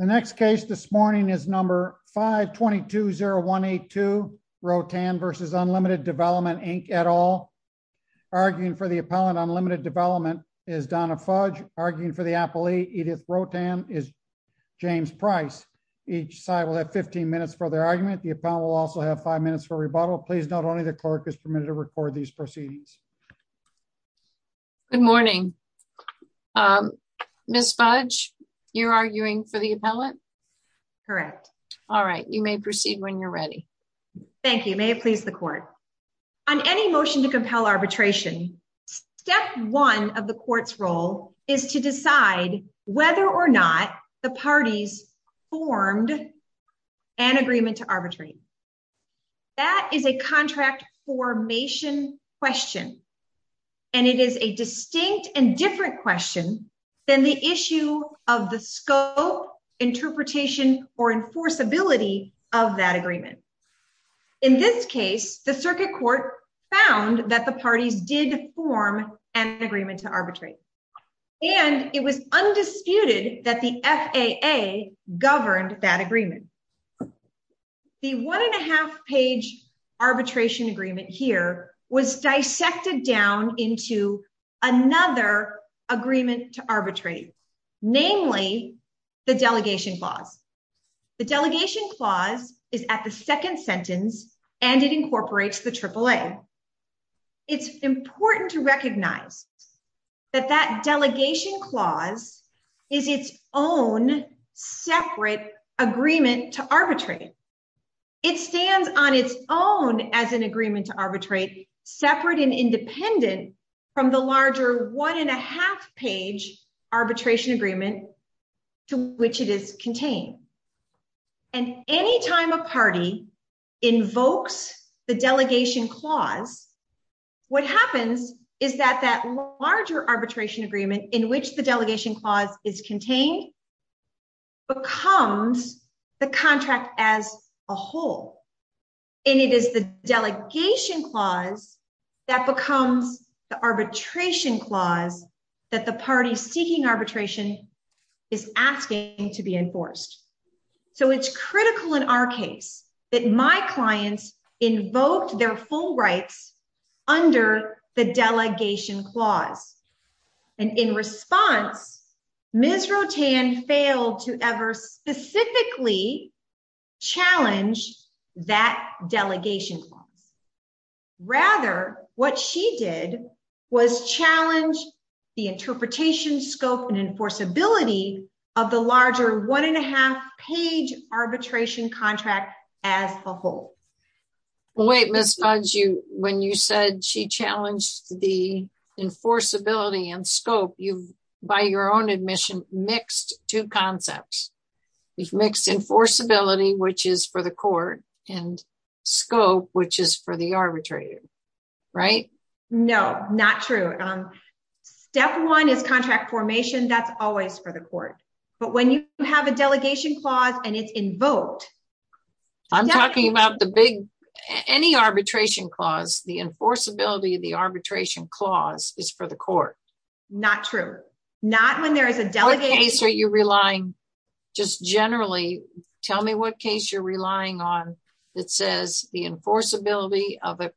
The next case this morning is number 5220182, Rotan v. Unlimited Development, Inc. et al. Arguing for the appellant, Unlimited Development, is Donna Fudge. Arguing for the appellee, Edith Rotan, is James Price. Each side will have 15 minutes for their argument. The appellant will also have 5 minutes for rebuttal. Please note only the clerk is permitted to record these proceedings. Good morning. Ms. Fudge, you're arguing for the appellant? Correct. All right, you may proceed when you're ready. Thank you. May it please the court. On any motion to compel arbitration, step one of the court's role is to decide whether or not the parties formed an agreement to arbitrate. That is a contract formation question, and it is a distinct and different question than the issue of the scope, interpretation, or enforceability of that agreement. In this case, the circuit court found that the parties did form an agreement to arbitrate, and it was undisputed that the FAA governed that agreement. The one and a half page arbitration agreement here was dissected down into another agreement to arbitrate, namely the delegation clause. The delegation clause is at the second sentence, and it incorporates the AAA. It's important to recognize that that delegation clause is its own separate agreement to arbitrate. It stands on its own as an agreement to arbitrate, separate and independent from the larger one and a half page arbitration agreement to which it is contained. And any time a party invokes the delegation clause, what happens is that that larger arbitration agreement in which the delegation clause is contained becomes the contract as a whole. And it is the delegation clause that becomes the arbitration clause that the party seeking arbitration is asking to be enforced. So it's critical in our case that my clients invoked their full rights under the delegation clause. And in response, Ms. Rotan failed to ever specifically challenge that delegation clause. Rather, what she did was challenge the interpretation, scope and enforceability of the larger one and a half page arbitration contract as a whole. Wait, Ms. Fudge, when you said she challenged the enforceability and scope, you've, by your own admission, mixed two concepts. You've mixed enforceability, which is for the court, and scope, which is for the arbitrator. Right? No, not true. Step one is contract formation. That's always for the court. But when you have a delegation clause and it's invoked. I'm talking about the big, any arbitration clause, the enforceability of the arbitration clause is for the court. Not true. Not when there is a delegation. What case are you relying, just generally, tell me what case you're relying on that says the enforceability of an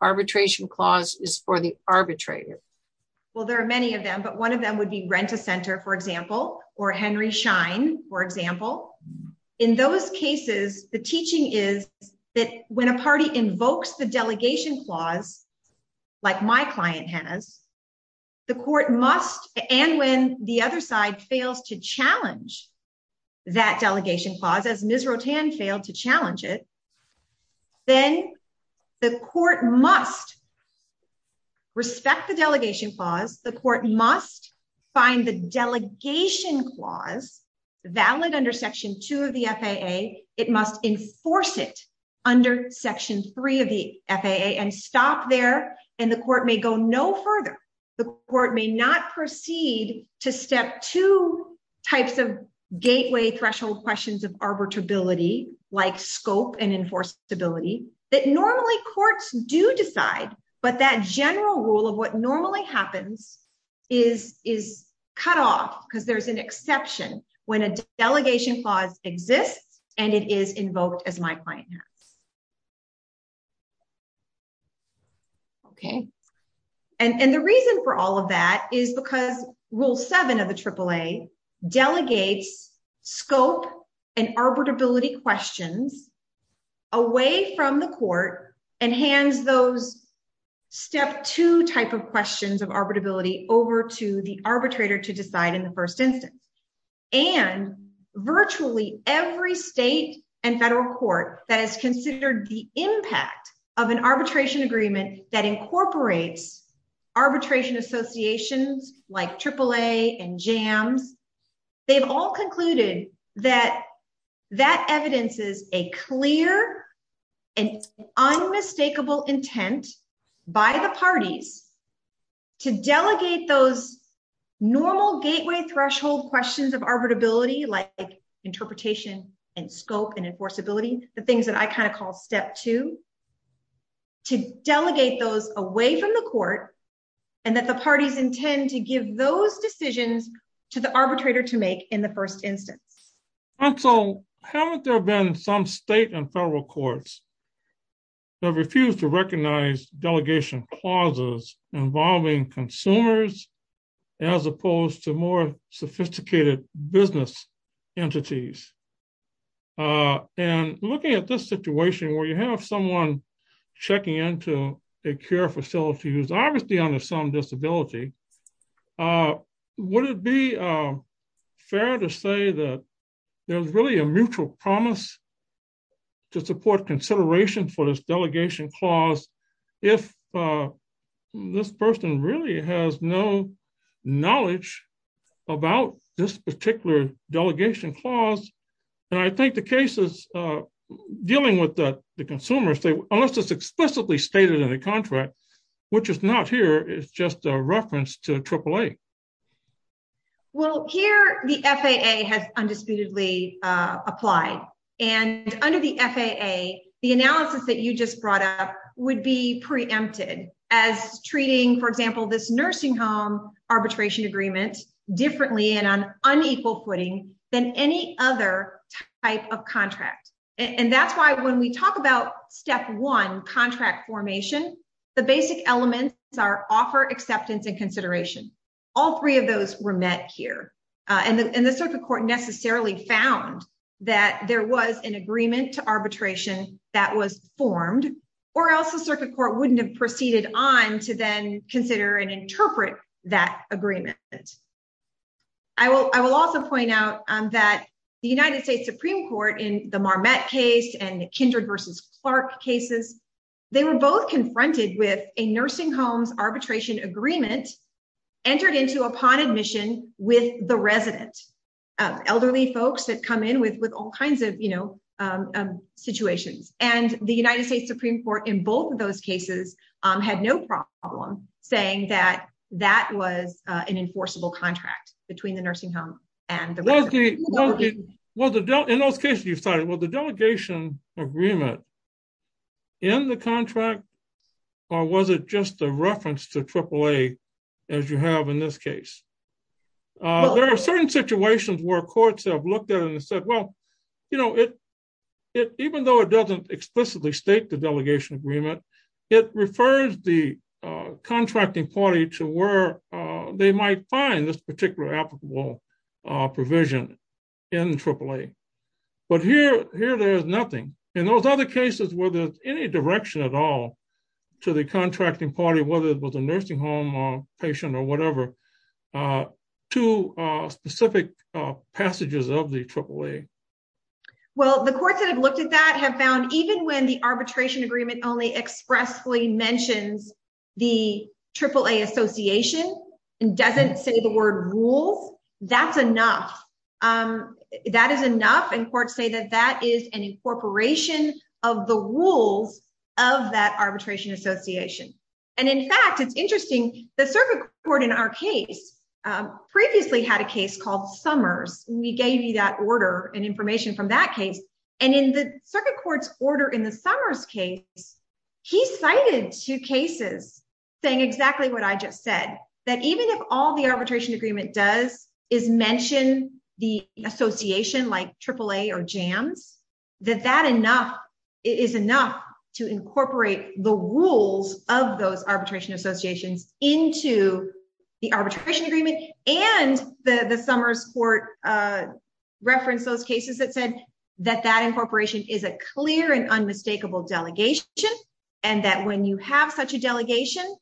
arbitration clause is for the arbitrator. Well, there are many of them, but one of them would be Rent-A-Center, for example, or Henry Schein, for example. In those cases, the teaching is that when a party invokes the delegation clause, like my client has, the court must, and when the other side fails to challenge that delegation clause, as Ms. Rotan failed to challenge it, then the court must respect the delegation clause. The court must find the delegation clause valid under Section 2 of the FAA. It must enforce it under Section 3 of the FAA and stop there. And the court may go no further. The court may not proceed to Step 2 types of gateway threshold questions of arbitrability, like scope and enforceability, that normally courts do decide, but that general rule of what normally happens is cut off because there's an exception when a delegation clause exists and it is invoked as my client has. Okay. And the reason for all of that is because Rule 7 of the AAA delegates scope and arbitrability questions away from the court and hands those Step 2 type of questions of arbitrability over to the arbitrator to decide in the first instance. And virtually every state and federal court that has considered the impact of an arbitration agreement that incorporates arbitration associations like AAA and JAMS, they've all concluded that that evidence is a clear and unmistakable intent by the parties to delegate those normal gateway threshold questions of arbitrability, like interpretation and scope and enforceability, the things that I kind of call Step 2, to delegate those away from the court and that the parties intend to give those decisions to the arbitrator to make in the first instance. And so, haven't there been some state and federal courts that refused to recognize delegation clauses involving consumers, as opposed to more sophisticated business entities? And looking at this situation where you have someone checking into a care facility who's obviously under some disability, would it be fair to say that there's really a mutual promise to support consideration for this delegation clause, if this person really has no knowledge about this particular delegation clause? And I think the cases dealing with the consumers say, unless it's explicitly stated in the contract, which is not here, it's just a reference to AAA. Well, here the FAA has undisputedly applied. And under the FAA, the analysis that you just brought up would be preempted as treating, for example, this nursing home arbitration agreement differently and on unequal footing than any other type of contract. And that's why when we talk about Step 1, contract formation, the basic elements are offer, acceptance, and consideration. All three of those were met here. And the circuit court necessarily found that there was an agreement to arbitration that was formed, or else the circuit court wouldn't have proceeded on to then consider and interpret that agreement. I will also point out that the United States Supreme Court in the Marmette case and the Kindred versus Clark cases, they were both confronted with a nursing homes arbitration agreement entered into upon admission with the resident, elderly folks that come in with all kinds of situations. And the United States Supreme Court in both of those cases had no problem saying that that was an enforceable contract between the nursing home and the resident. Well, in those cases you cited, was the delegation agreement in the contract, or was it just a reference to AAA as you have in this case? There are certain situations where courts have looked at and said, well, you know, even though it doesn't explicitly state the delegation agreement, it refers the contracting party to where they might find this particular applicable provision in AAA. But here there is nothing. In those other cases, were there any direction at all to the contracting party, whether it was a nursing home or patient or whatever, to specific passages of the AAA? Well, the courts that have looked at that have found even when the arbitration agreement only expressly mentions the AAA association and doesn't say the word rules, that's enough. That is enough and courts say that that is an incorporation of the rules of that arbitration association. And in fact, it's interesting, the circuit court in our case previously had a case called Summers. We gave you that order and information from that case. And in the circuit court's order in the Summers case, he cited two cases saying exactly what I just said, that even if all the arbitration agreement does is mention the association like AAA or JAMS, that that is enough to incorporate the rules of those arbitration associations into the arbitration agreement. And the Summers court referenced those cases that said that that incorporation is a clear and unmistakable delegation and that when you have such a delegation,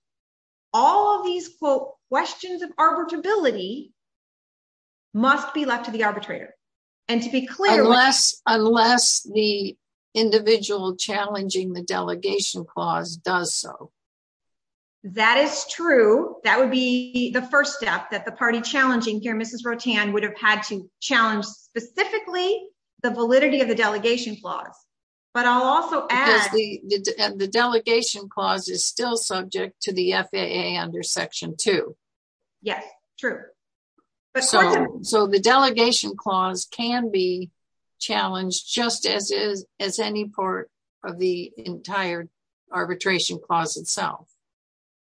all of these, quote, questions of arbitrability must be left to the arbitrator. And to be clear... Unless the individual challenging the delegation clause does so. That is true. That would be the first step that the party challenging here, Mrs. Rotan, would have had to challenge specifically the validity of the delegation clause. But I'll also add... Because the delegation clause is still subject to the FAA under Section 2. Yes, true. So the delegation clause can be challenged just as is as any part of the entire arbitration clause itself.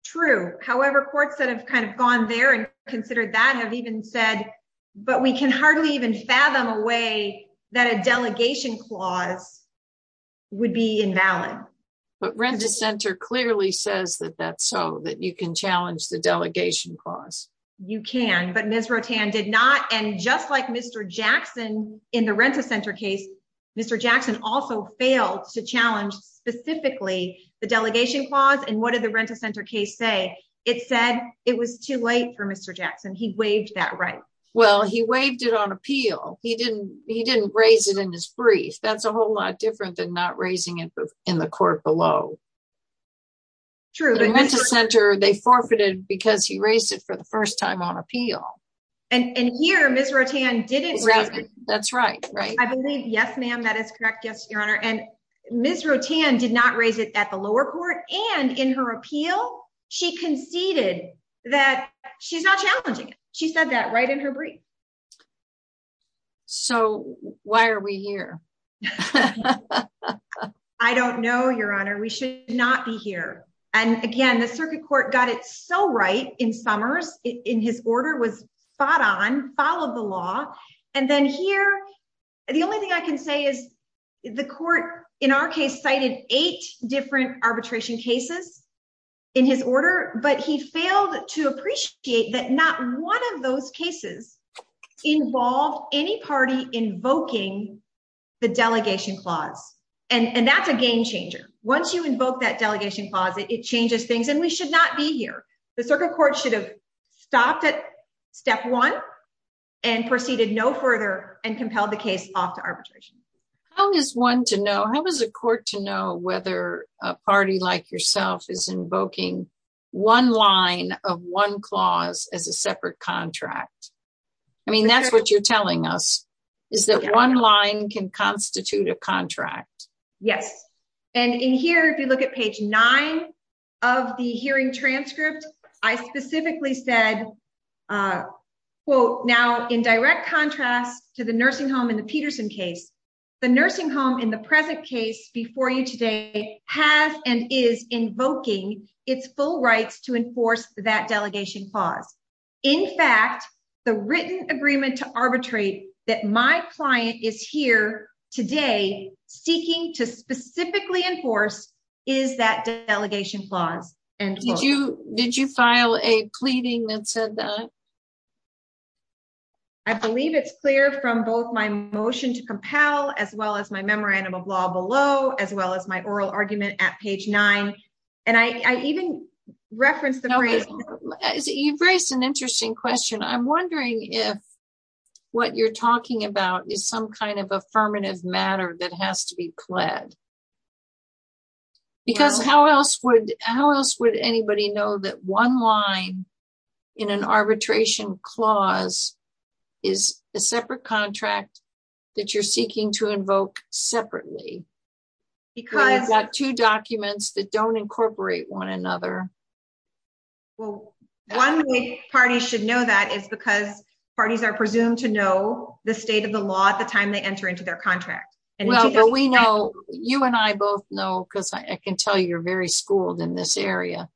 True. However, courts that have kind of gone there and considered that have even said, but we can hardly even fathom a way that a delegation clause would be invalid. But Renda Center clearly says that that's so, that you can challenge the delegation clause. You can, but Ms. Rotan did not. And just like Mr. Jackson in the Renda Center case, Mr. Jackson also failed to challenge specifically the delegation clause. And what did the Renda Center case say? It said it was too late for Mr. Jackson. He waived that right. Well, he waived it on appeal. He didn't raise it in his brief. That's a whole lot different than not raising it in the court below. True. The Renda Center, they forfeited because he raised it for the first time on appeal. And here, Ms. Rotan didn't raise it. That's right. I believe, yes, ma'am, that is correct. Yes, Your Honor. And Ms. Rotan did not raise it at the lower court. And in her appeal, she conceded that she's not challenging it. She said that right in her brief. So why are we here? I don't know, Your Honor. We should not be here. And again, the circuit court got it so right in Summers, in his order, was spot on, followed the law. And then here, the only thing I can say is the court, in our case, cited eight different arbitration cases in his order, but he failed to appreciate that not one of those cases involved any party invoking the delegation clause. And that's a game changer. Once you invoke that delegation clause, it changes things, and we should not be here. The circuit court should have stopped at step one and proceeded no further and compelled the case off to arbitration. How is one to know, how is a court to know whether a party like yourself is invoking one line of one clause as a separate contract? I mean, that's what you're telling us, is that one line can constitute a contract. Yes. And in here, if you look at page nine of the hearing transcript, I specifically said, quote, now, in direct contrast to the nursing home in the Peterson case, the nursing home in the present case before you today has and is invoking its full rights to enforce that delegation clause. In fact, the written agreement to arbitrate that my client is here today seeking to specifically enforce is that delegation clause. Did you file a pleading that said that? I believe it's clear from both my motion to compel, as well as my memorandum of law below, as well as my oral argument at page nine. And I even referenced the phrase. You've raised an interesting question. I'm wondering if what you're talking about is some kind of affirmative matter that has to be pled. Because how else would how else would anybody know that one line in an arbitration clause is a separate contract that you're seeking to invoke separately? Because I've got two documents that don't incorporate one another. Well, one way parties should know that is because parties are presumed to know the state of the law at the time they enter into their contract. Well, we know you and I both know because I can tell you're very schooled in this area.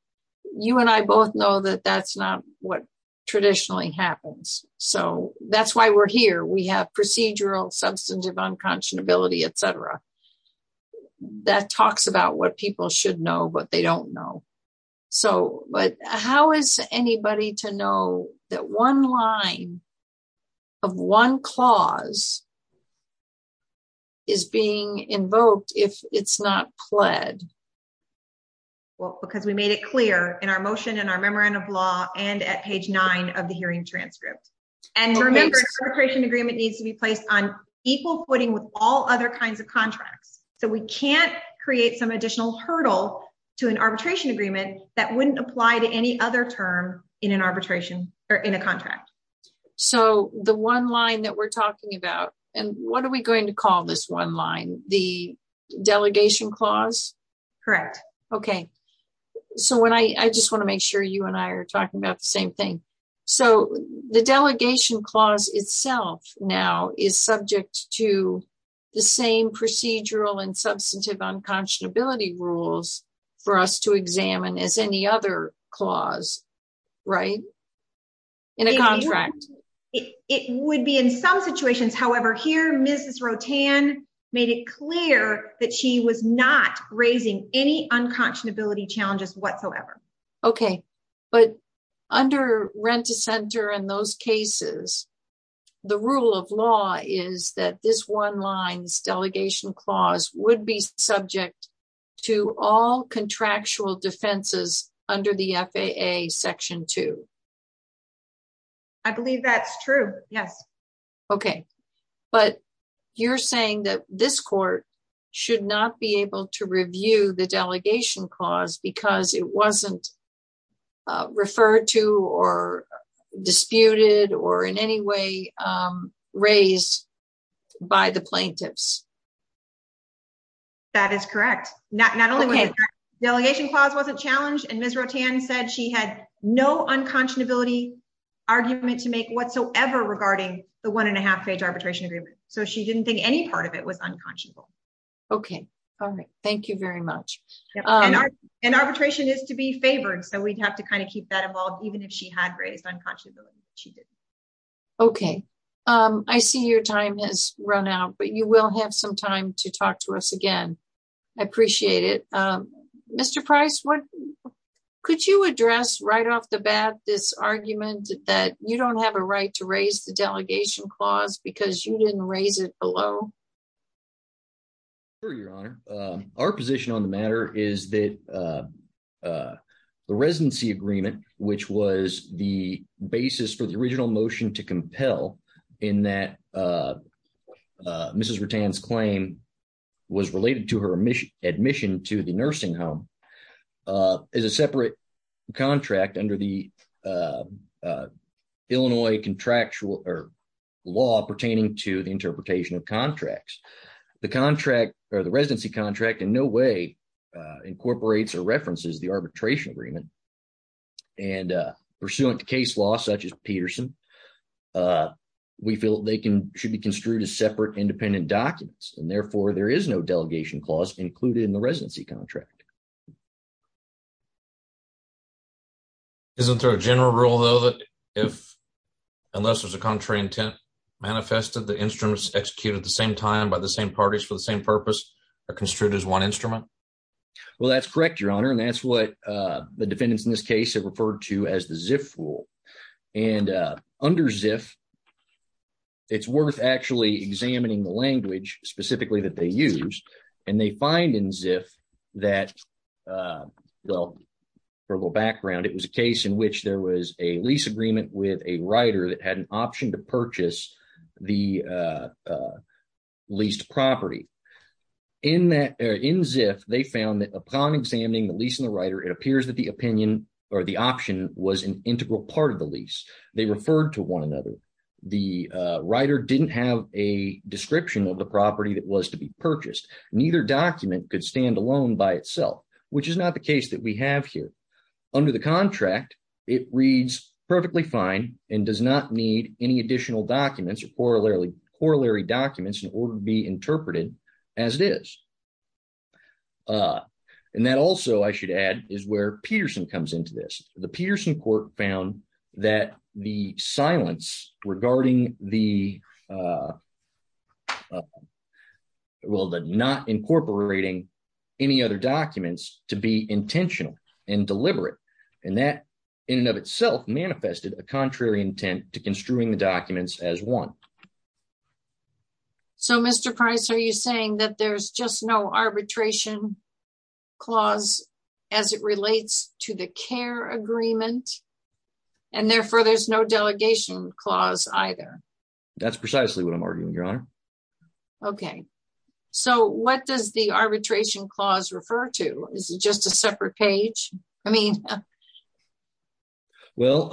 You and I both know that that's not what traditionally happens. So that's why we're here. We have procedural substantive unconscionability, etc. That talks about what people should know, but they don't know. So, but how is anybody to know that one line of one clause is being invoked if it's not pled? Well, because we made it clear in our motion and our memorandum of law and at page nine of the hearing transcript. And remember, an arbitration agreement needs to be placed on equal footing with all other kinds of contracts. So we can't create some additional hurdle to an arbitration agreement that wouldn't apply to any other term in an arbitration or in a contract. So the one line that we're talking about, and what are we going to call this one line, the delegation clause? Correct. Okay. So when I just want to make sure you and I are talking about the same thing. So the delegation clause itself now is subject to the same procedural and substantive unconscionability rules for us to examine as any other clause, right? In a contract. It would be in some situations. However, here, Mrs. Rotan made it clear that she was not raising any unconscionability challenges whatsoever. Okay. But under Rent-A-Center and those cases, the rule of law is that this one line's delegation clause would be subject to all contractual defenses under the FAA section two. I believe that's true. Yes. Okay. But you're saying that this court should not be able to review the delegation clause because it wasn't referred to or disputed or in any way raised by the plaintiffs. That is correct. Not only was the delegation clause wasn't challenged, and Ms. Rotan said she had no unconscionability argument to make whatsoever regarding the one and a half page arbitration agreement. So she didn't think any part of it was unconscionable. Okay. All right. Thank you very much. And arbitration is to be favored. So we'd have to kind of keep that involved, even if she had raised unconscionability. She didn't. Okay. I see your time has run out, but you will have some time to talk to us again. I appreciate it. Mr. Price, could you address right off the bat this argument that you don't have a right to raise the delegation clause because you didn't raise it below? Sure, Your Honor. Our position on the matter is that the residency agreement, which was the basis for the original motion to compel in that Mrs. Rotan's claim was related to her admission to the nursing home, is a separate contract under the Illinois contractual or law pertaining to the interpretation of contract. The contract or the residency contract in no way incorporates or references the arbitration agreement, and pursuant to case law such as Peterson, we feel they should be construed as separate independent documents, and therefore there is no delegation clause included in the residency contract. Isn't there a general rule, though, that if unless there's a contrary intent manifested, the instruments executed at the same time by the same parties for the same purpose are construed as one instrument? Well, that's correct, Your Honor, and that's what the defendants in this case have referred to as the ZIF rule. And under ZIF, it's worth actually examining the language specifically that they use, and they find in ZIF that, well, for a little background, it was a case in which there was a lease agreement with a writer that had an option to purchase the leased property. In ZIF, they found that upon examining the lease and the writer, it appears that the opinion or the option was an integral part of the lease. They referred to one another. The writer didn't have a description of the property that was to be purchased. Neither document could stand alone by itself, which is not the case that we have here. Under the contract, it reads perfectly fine and does not need any additional documents or corollary documents in order to be interpreted as it is. And that also, I should add, is where Peterson comes into this. The Peterson court found that the silence regarding the well, the not incorporating any other documents to be intentional and deliberate, and that in and of itself manifested a contrary intent to construing the documents as one. So, Mr. Price, are you saying that there's just no arbitration clause as it relates to the care agreement, and therefore there's no delegation clause either? That's precisely what I'm arguing, Your Honor. Okay. So, what does the arbitration clause refer to? Is it just a separate page? I mean… Well,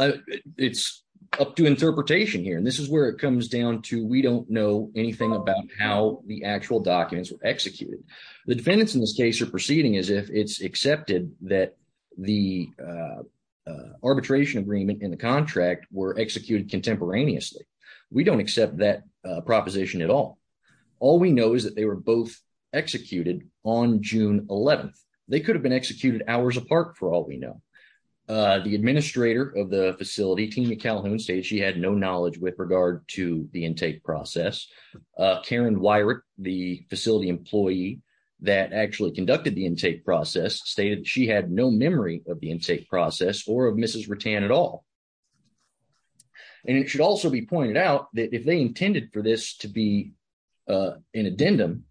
it's up to interpretation here, and this is where it comes down to we don't know anything about how the actual documents were executed. The defendants in this case are proceeding as if it's accepted that the arbitration agreement in the contract were executed contemporaneously. We don't accept that proposition at all. All we know is that they were both executed on June 11th. They could have been executed hours apart for all we know. The administrator of the facility, Tina Calhoun, stated she had no knowledge with regard to the intake process. Karen Weirich, the facility employee that actually conducted the intake process, stated she had no memory of the intake process or of Mrs. Rutan at all. And it should also be pointed out that if they intended for this to be an addendum,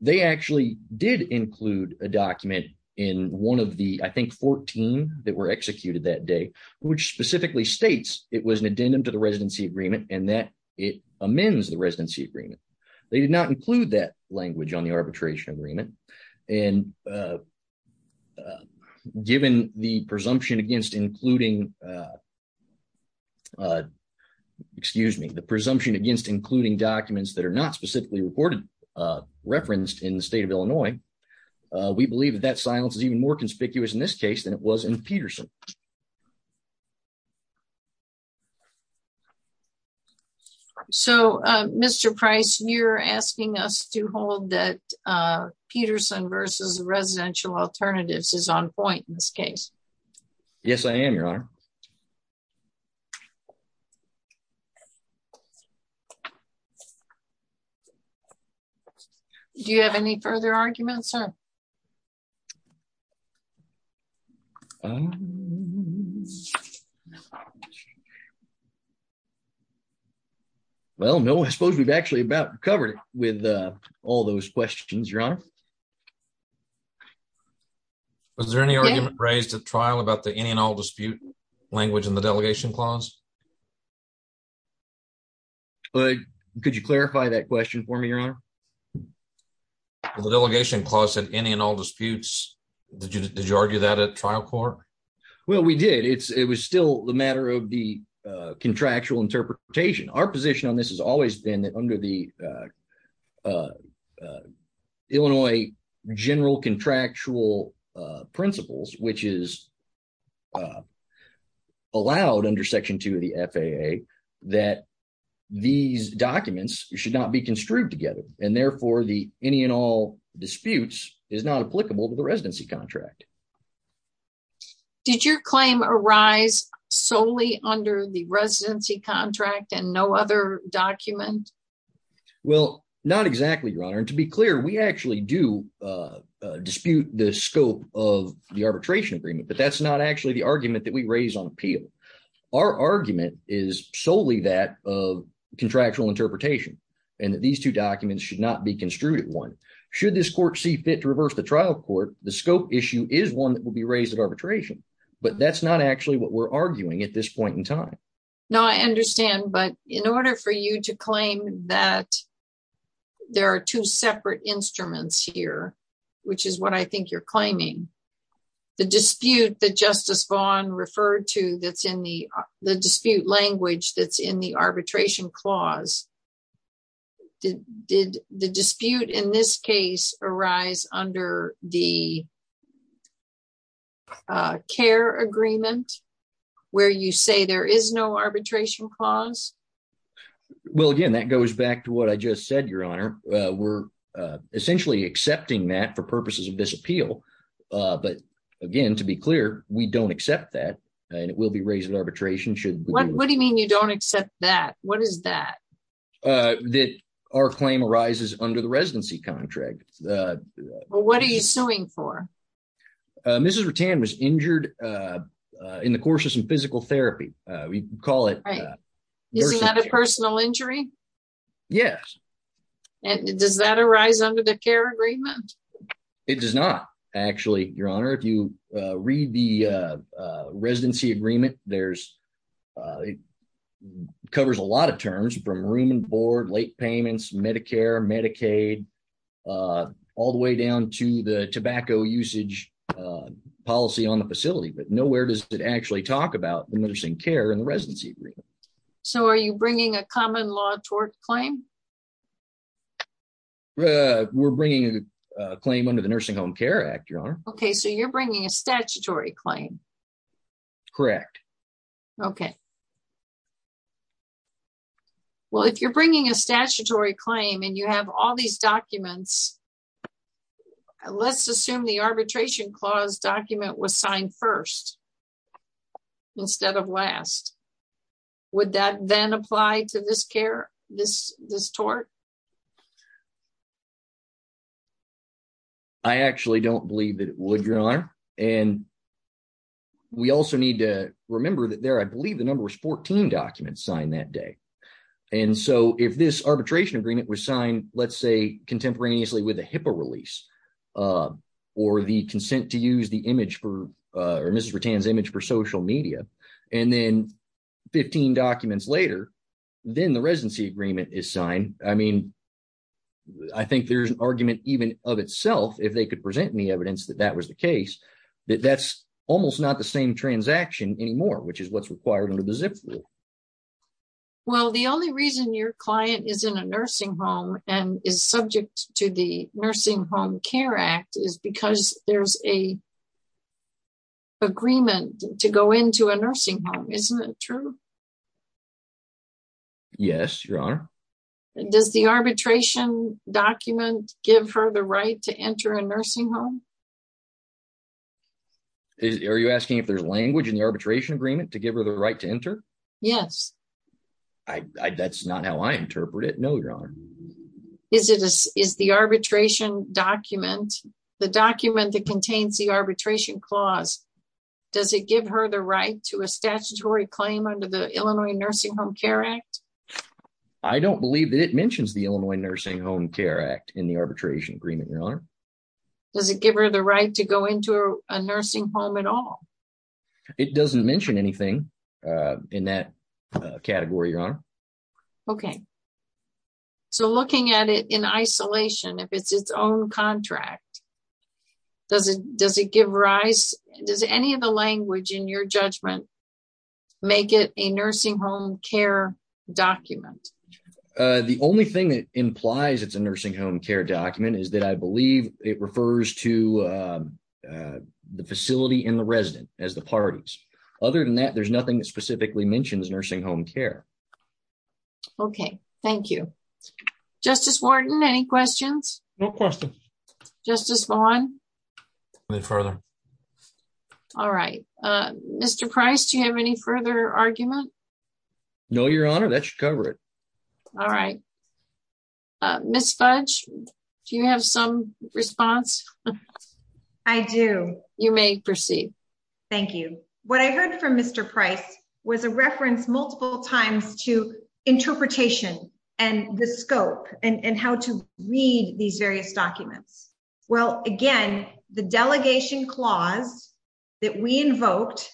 they actually did include a document in one of the, I think, 14 that were executed that day, which specifically states it was an addendum to the residency agreement and that it amends the residency agreement. They did not include that language on the arbitration agreement, and given the presumption against including documents that are not specifically referenced in the state of Illinois, we believe that that silence is even more conspicuous in this case than it was in Peterson. So, Mr. Price, you're asking us to hold that Peterson versus residential alternatives is on point in this case. Yes, I am, Your Honor. Do you have any further arguments, sir? Well, no, I suppose we've actually about covered with all those questions, Your Honor. Was there any argument raised at trial about the any and all dispute language in the delegation clause? Could you clarify that question for me, Your Honor? The delegation clause said any and all disputes. Did you argue that at trial court? Well, we did. It was still a matter of the contractual interpretation. Our position on this has always been that under the Illinois general contractual principles, which is allowed under Section 2 of the FAA, that these documents should not be construed together, and therefore the any and all disputes is not applicable to the residency contract. Did your claim arise solely under the residency contract and no other document? Well, not exactly, Your Honor. And to be clear, we actually do dispute the scope of the arbitration agreement, but that's not actually the argument that we raise on appeal. Our argument is solely that of contractual interpretation, and that these two documents should not be construed at one. Should this court see fit to reverse the trial court, the scope issue is one that will be raised at arbitration, but that's not actually what we're arguing at this point in time. No, I understand, but in order for you to claim that there are two separate instruments here, which is what I think you're claiming, the dispute that Justice Vaughn referred to that's in the dispute language that's in the arbitration clause, did the dispute in this case arise under the CARE agreement, where you say there is no arbitration clause? Well, again, that goes back to what I just said, Your Honor. We're essentially accepting that for purposes of this appeal, but again, to be clear, we don't accept that, and it will be raised at arbitration. What do you mean you don't accept that? What is that? That our claim arises under the residency contract. Well, what are you suing for? Mrs. Rutan was injured in the course of some physical therapy. Right. Isn't that a personal injury? Yes. Does that arise under the CARE agreement? It does not, actually, Your Honor. If you read the residency agreement, it covers a lot of terms from room and board, late payments, Medicare, Medicaid, all the way down to the tobacco usage policy on the facility, but nowhere does it actually talk about the nursing care in the residency agreement. So are you bringing a common law tort claim? We're bringing a claim under the Nursing Home Care Act, Your Honor. So you're bringing a statutory claim? Correct. Okay. Well, if you're bringing a statutory claim and you have all these documents, let's assume the arbitration clause document was signed first instead of last. Would that then apply to this CARE, this tort? I actually don't believe that it would, Your Honor. And we also need to remember that there, I believe, the number was 14 documents signed that day. And so if this arbitration agreement was signed, let's say contemporaneously with a HIPAA release or the consent to use the image for Mrs. Rutan's image for social media, and then 15 documents later, then the residency agreement is signed. I mean, I think there's an argument even of itself, if they could present any evidence that that was the case, that that's almost not the same transaction anymore, which is what's required under the ZIP rule. Well, the only reason your client is in a nursing home and is subject to the Nursing Home Care Act is because there's an agreement to go into a nursing home. Isn't it true? Yes, Your Honor. Does the arbitration document give her the right to enter a nursing home? Are you asking if there's language in the arbitration agreement to give her the right to enter? Yes. That's not how I interpret it, no, Your Honor. Is the arbitration document, the document that contains the arbitration clause, does it give her the right to a statutory claim under the Illinois Nursing Home Care Act? I don't believe that it mentions the Illinois Nursing Home Care Act in the arbitration agreement, Your Honor. Does it give her the right to go into a nursing home at all? It doesn't mention anything in that category, Your Honor. Okay. So looking at it in isolation, if it's its own contract, does it give rise, does any of the language in your judgment make it a nursing home care document? The only thing that implies it's a nursing home care document is that I believe it refers to the facility and the resident as the parties. Other than that, there's nothing that specifically mentions nursing home care. Okay. Thank you. Justice Wharton, any questions? No questions. Justice Vaughn? Nothing further. All right. Mr. Price, do you have any further argument? No, Your Honor. That should cover it. All right. Ms. Fudge, do you have some response? I do. You may proceed. Thank you. What I heard from Mr. Price was a reference multiple times to interpretation and the scope and how to read these various documents. Well, again, the delegation clause that we invoked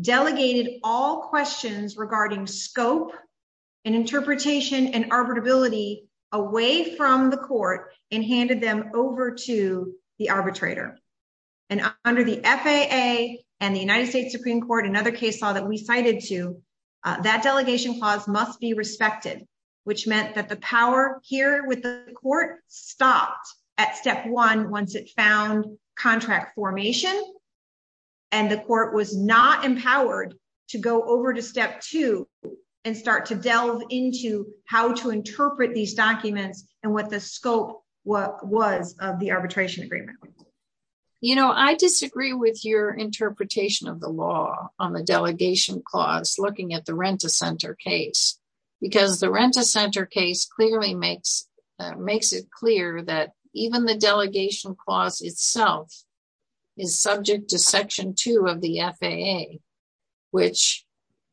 delegated all questions regarding scope and interpretation and arbitrability away from the court and handed them over to the arbitrator. And under the FAA and the United States Supreme Court, another case law that we cited to, that delegation clause must be respected, which meant that the power here with the court stopped at step one once it found contract formation and the court was not empowered to go over to step two and start to delve into how to interpret these documents and what the scope was of the arbitration agreement. You know, I disagree with your interpretation of the law on the delegation clause looking at the Rent-A-Center case because the Rent-A-Center case clearly makes it clear that even the delegation clause itself is subject to section two of the FAA, which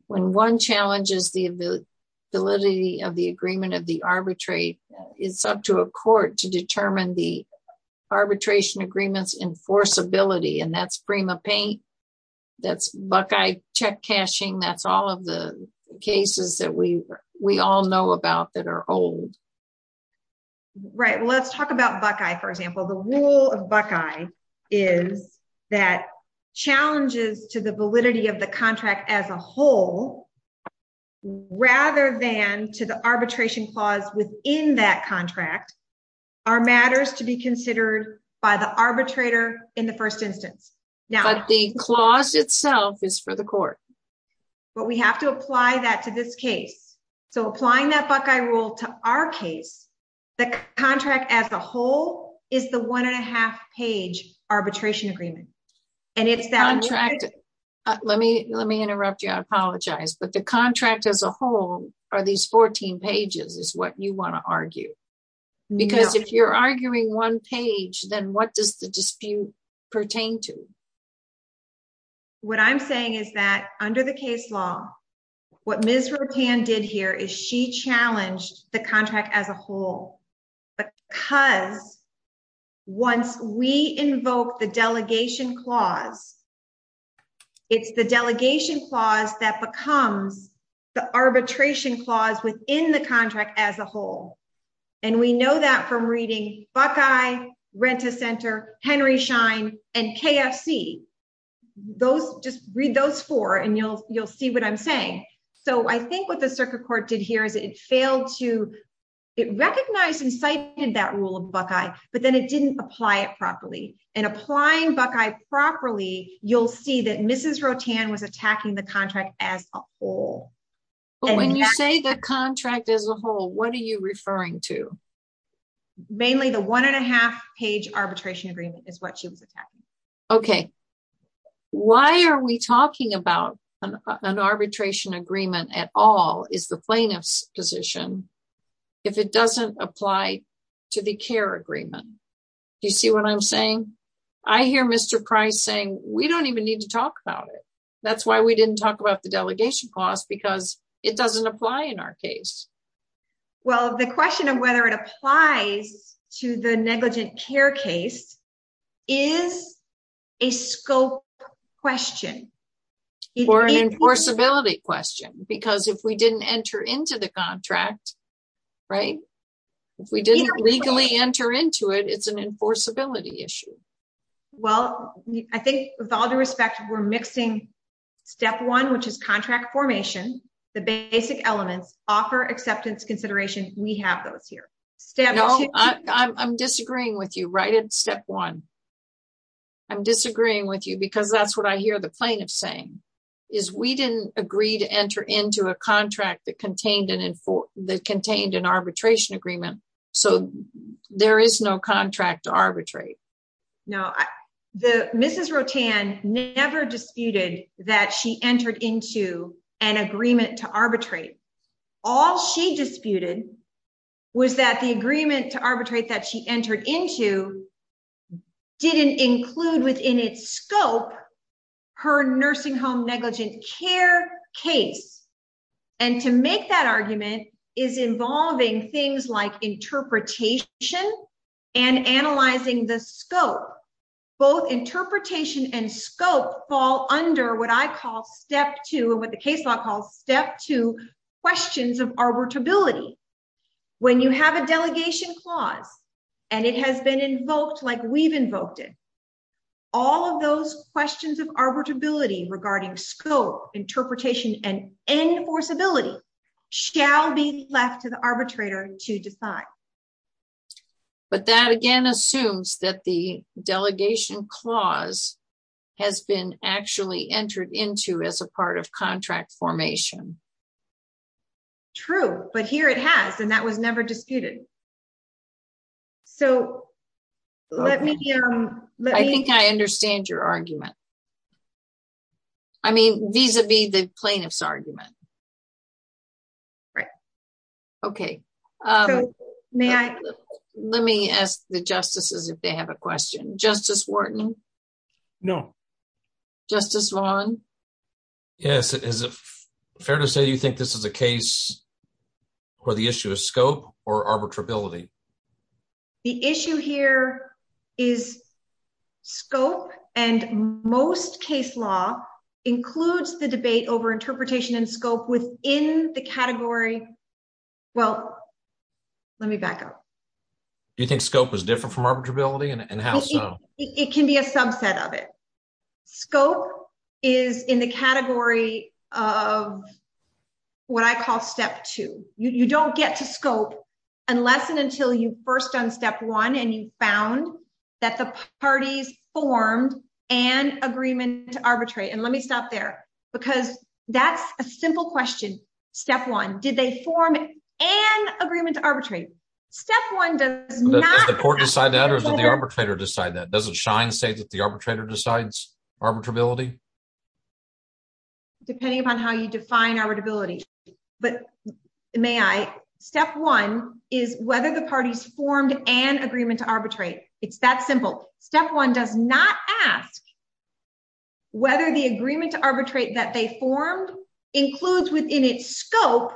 when one challenges the validity of the agreement of the arbitrate, it's up to a court to determine the arbitration agreements enforceability and that's PrimaPay, that's Buckeye check cashing, that's all of the cases that we all know about that are old. Right, let's talk about Buckeye for example. The rule of Buckeye is that challenges to the validity of the contract as a whole rather than to the arbitration clause within that contract are matters to be considered by the arbitrator in the first instance. But the clause itself is for the court. But we have to apply that to this case. So applying that Buckeye rule to our case, the contract as a whole is the one and a half page arbitration agreement. And it's that- Let me interrupt you, I apologize. But the contract as a whole are these 14 pages is what you want to argue. Because if you're arguing one page, then what does the dispute pertain to? What I'm saying is that under the case law, what Ms. Rotan did here is she challenged the contract as a whole. Because once we invoke the delegation clause, it's the delegation clause that becomes the arbitration clause within the contract as a whole. And we know that from reading Buckeye, Rent-A-Center, Henry Schein, and KFC. Just read those four and you'll see what I'm saying. So I think what the circuit court did here is it failed to- It recognized and cited that rule of Buckeye, but then it didn't apply it properly. And applying Buckeye properly, you'll see that Mrs. Rotan was attacking the contract as a whole. But when you say the contract as a whole, what are you referring to? Mainly the one and a half page arbitration agreement is what she was attacking. Okay. Why are we talking about an arbitration agreement at all is the plaintiff's position if it doesn't apply to the care agreement? Do you see what I'm saying? I hear Mr. Price saying, we don't even need to talk about it. That's why we didn't talk about the delegation clause because it doesn't apply in our case. Well, the question of whether it applies to the negligent care case is a scope question. Or an enforceability question. Because if we didn't enter into the contract, right? If we didn't legally enter into it, it's an enforceability issue. Well, I think with all due respect, we're mixing step one, which is contract formation, the basic elements, offer, acceptance, consideration. We have those here. No, I'm disagreeing with you. Right at step one. I'm disagreeing with you because that's what I hear the plaintiff saying is we didn't agree to enter into a contract that contained an arbitration agreement. So there is no contract to arbitrate. No, Mrs. Rotan never disputed that she entered into an agreement to arbitrate. All she disputed was that the agreement to arbitrate that she entered into didn't include within its scope her nursing home negligent care case. And to make that argument is involving things like interpretation and analyzing the scope. Both interpretation and scope fall under what I call step two and what the case law calls step two questions of arbitrability. When you have a delegation clause and it has been invoked like we've invoked it, all of those questions of arbitrability regarding scope, interpretation, and enforceability shall be left to the arbitrator to decide. But that again assumes that the delegation clause has been actually entered into as a part of contract formation. True, but here it has, and that was never disputed. So let me- I think I understand your argument. I mean, vis-a-vis the plaintiff's argument. Right. Okay. May I- Let me ask the justices if they have a question. Justice Wharton? No. Justice Raun? Yes, is it fair to say you think this is a case where the issue is scope or arbitrability? The issue here is scope and most case law includes the debate over interpretation and scope within the category. Well, let me back up. You think scope is different from arbitrability and how so? It can be a subset of it. Scope is in the category of what I call step two. You don't get to scope unless and until you've first done step one and you found that the parties formed an agreement to arbitrate. And let me stop there because that's a simple question. Step one, did they form an agreement to arbitrate? Step one does not- Does the court decide that or does it shine state that the arbitrator decides arbitrability? Depending upon how you define arbitrability. But may I? Step one is whether the parties formed an agreement to arbitrate. It's that simple. Step one does not ask whether the agreement to arbitrate that they formed includes within its scope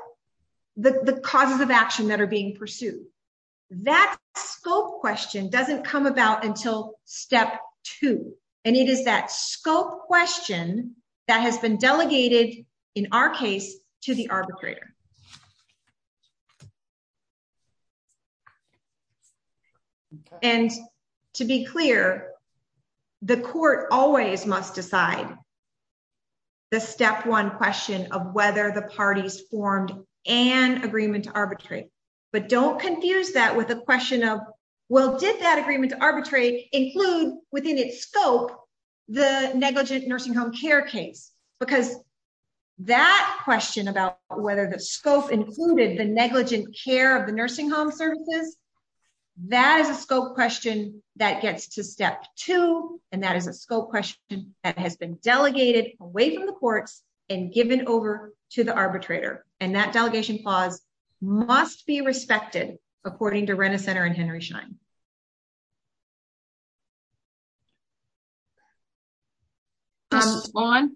the causes of action that are being pursued. That scope question doesn't come about until step two. And it is that scope question that has been delegated in our case to the arbitrator. And to be clear, the court always must decide the step one question of whether the parties formed an agreement to arbitrate. But don't confuse that with a question of, well, did that agreement to arbitrate include within its scope the negligent nursing home care case? Because that question about whether the scope included the negligent care of the nursing home services, that is a scope question that gets to step two. And that is a scope question that has been delegated away from the courts and given over to the arbitrator. And that delegation clause must be respected according to Renner Center and Henry Schein. Mrs. Vaughn?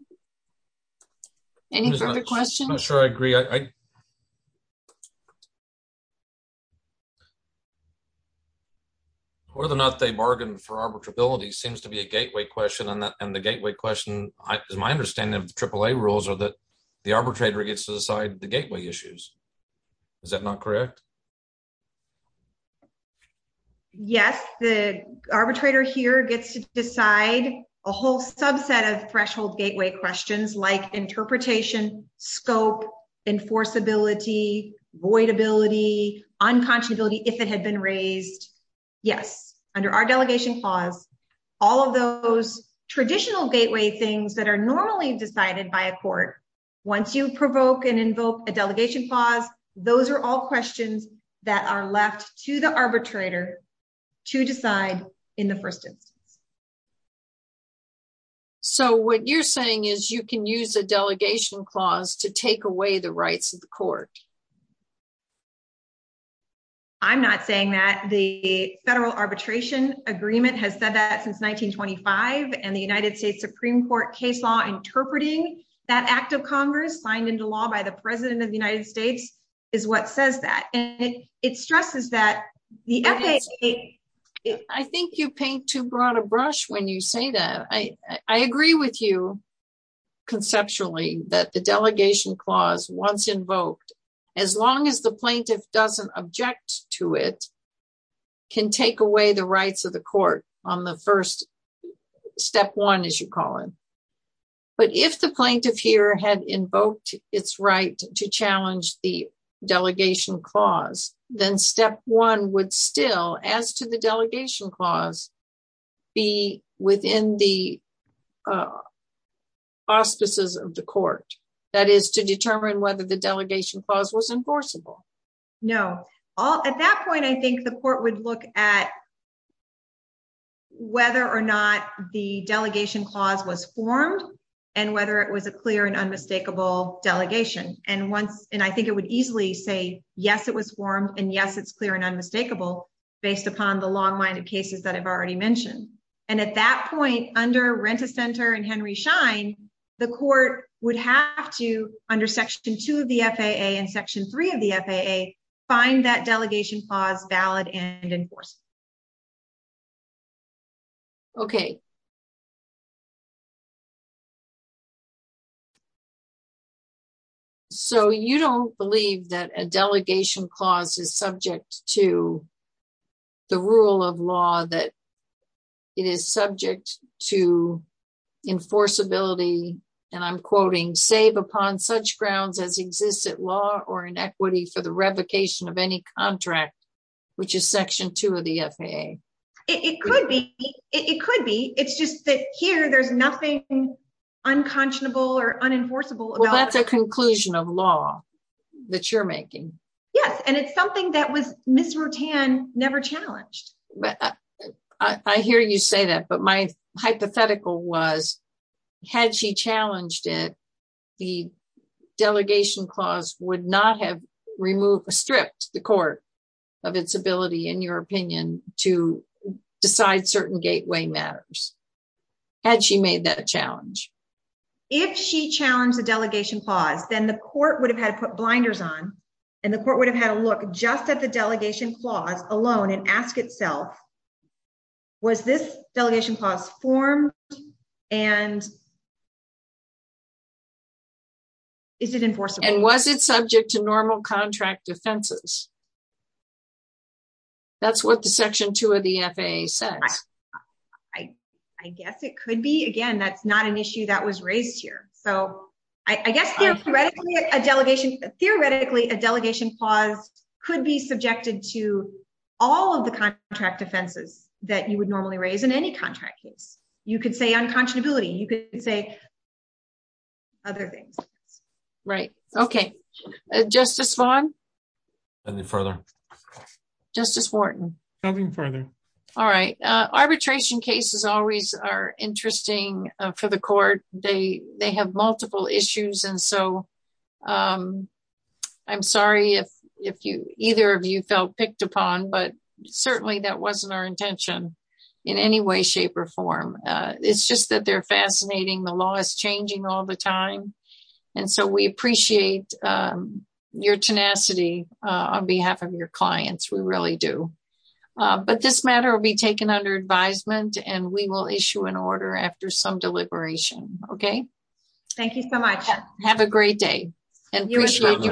Any further questions? I'm not sure I agree. More than that, they bargained for arbitrability seems to be a gateway question. And the gateway question, my understanding of the AAA rules are that the arbitrator gets to decide the gateway issues. Is that not correct? Yes, the arbitrator here gets to decide a whole subset of threshold gateway questions like interpretation, scope, enforceability, voidability, unconscionability if it had been raised. Yes, under our delegation clause, all of those traditional gateway things that are normally decided by a court, once you provoke and invoke a delegation clause, those are all questions that are left to the arbitrator to decide in the first instance. So what you're saying is you can use a delegation clause to take away the rights of the court? I'm not saying that. The federal arbitration agreement has said that since 1925 and the United States Supreme Court case law interpreting that act of Congress signed into law by the President of the United States is what says that. And it stresses that the FAA... I think you paint too broad a brush when you say that. I agree with you conceptually that the delegation clause once invoked, as long as the plaintiff doesn't object to it, can take away the rights of the court on the first step one, as you call it. But if the plaintiff here had invoked its right to challenge the delegation clause, then step one would still, as to the delegation clause, be within the auspices of the court. That is to determine whether the delegation clause was enforceable. No. At that point, I think the court would look at whether or not the delegation clause was formed and whether it was a clear and unmistakable delegation. And I think it would easily say, yes, it was formed, and yes, it's clear and unmistakable based upon the long-minded cases that I've already mentioned. And at that point, under Rent-A-Center and Henry Schein, the court would have to, under section two of the FAA and section three of the FAA, find that delegation clause valid and enforceable. Okay. So you don't believe that a delegation clause is subject to the rule of law that it is subject to enforceability, and I'm quoting, save upon such grounds as existent law or inequity for the revocation of any contract, which is section two of the FAA. It could be. It's just that here there's nothing unconscionable or unenforceable. Well, that's a conclusion of law that you're making. Yes, and it's something that Ms. Rutan never challenged. I hear you say that, but my hypothetical was, had she challenged it, would not have stripped the court of its ability, in your opinion, to decide certain cases when the gateway matters? Had she made that a challenge? If she challenged the delegation clause, then the court would have had to put blinders on, and the court would have had to look just at the delegation clause alone and ask itself, was this delegation clause formed and is it enforceable? And was it subject to normal contract offenses? That's what the section two of the FAA says. I guess it could be. Again, that's not an issue that was raised here. I guess theoretically, a delegation clause could be subjected to all of the contract offenses that you would normally raise in any contract case. You could say unconscionability. You could say other things. Right, okay. Justice Vaughn? Nothing further. Justice Wharton? The delegation cases always are interesting for the court. They have multiple issues, and so I'm sorry if either of you felt picked upon, but certainly that wasn't our intention in any way, shape, or form. It's just that they're fascinating. The law is changing all the time, and so we appreciate your tenacity on behalf of your clients. We really do. Thank you for your time, and we will issue an order after some deliberation, okay? Thank you so much. Have a great day, and appreciate you both.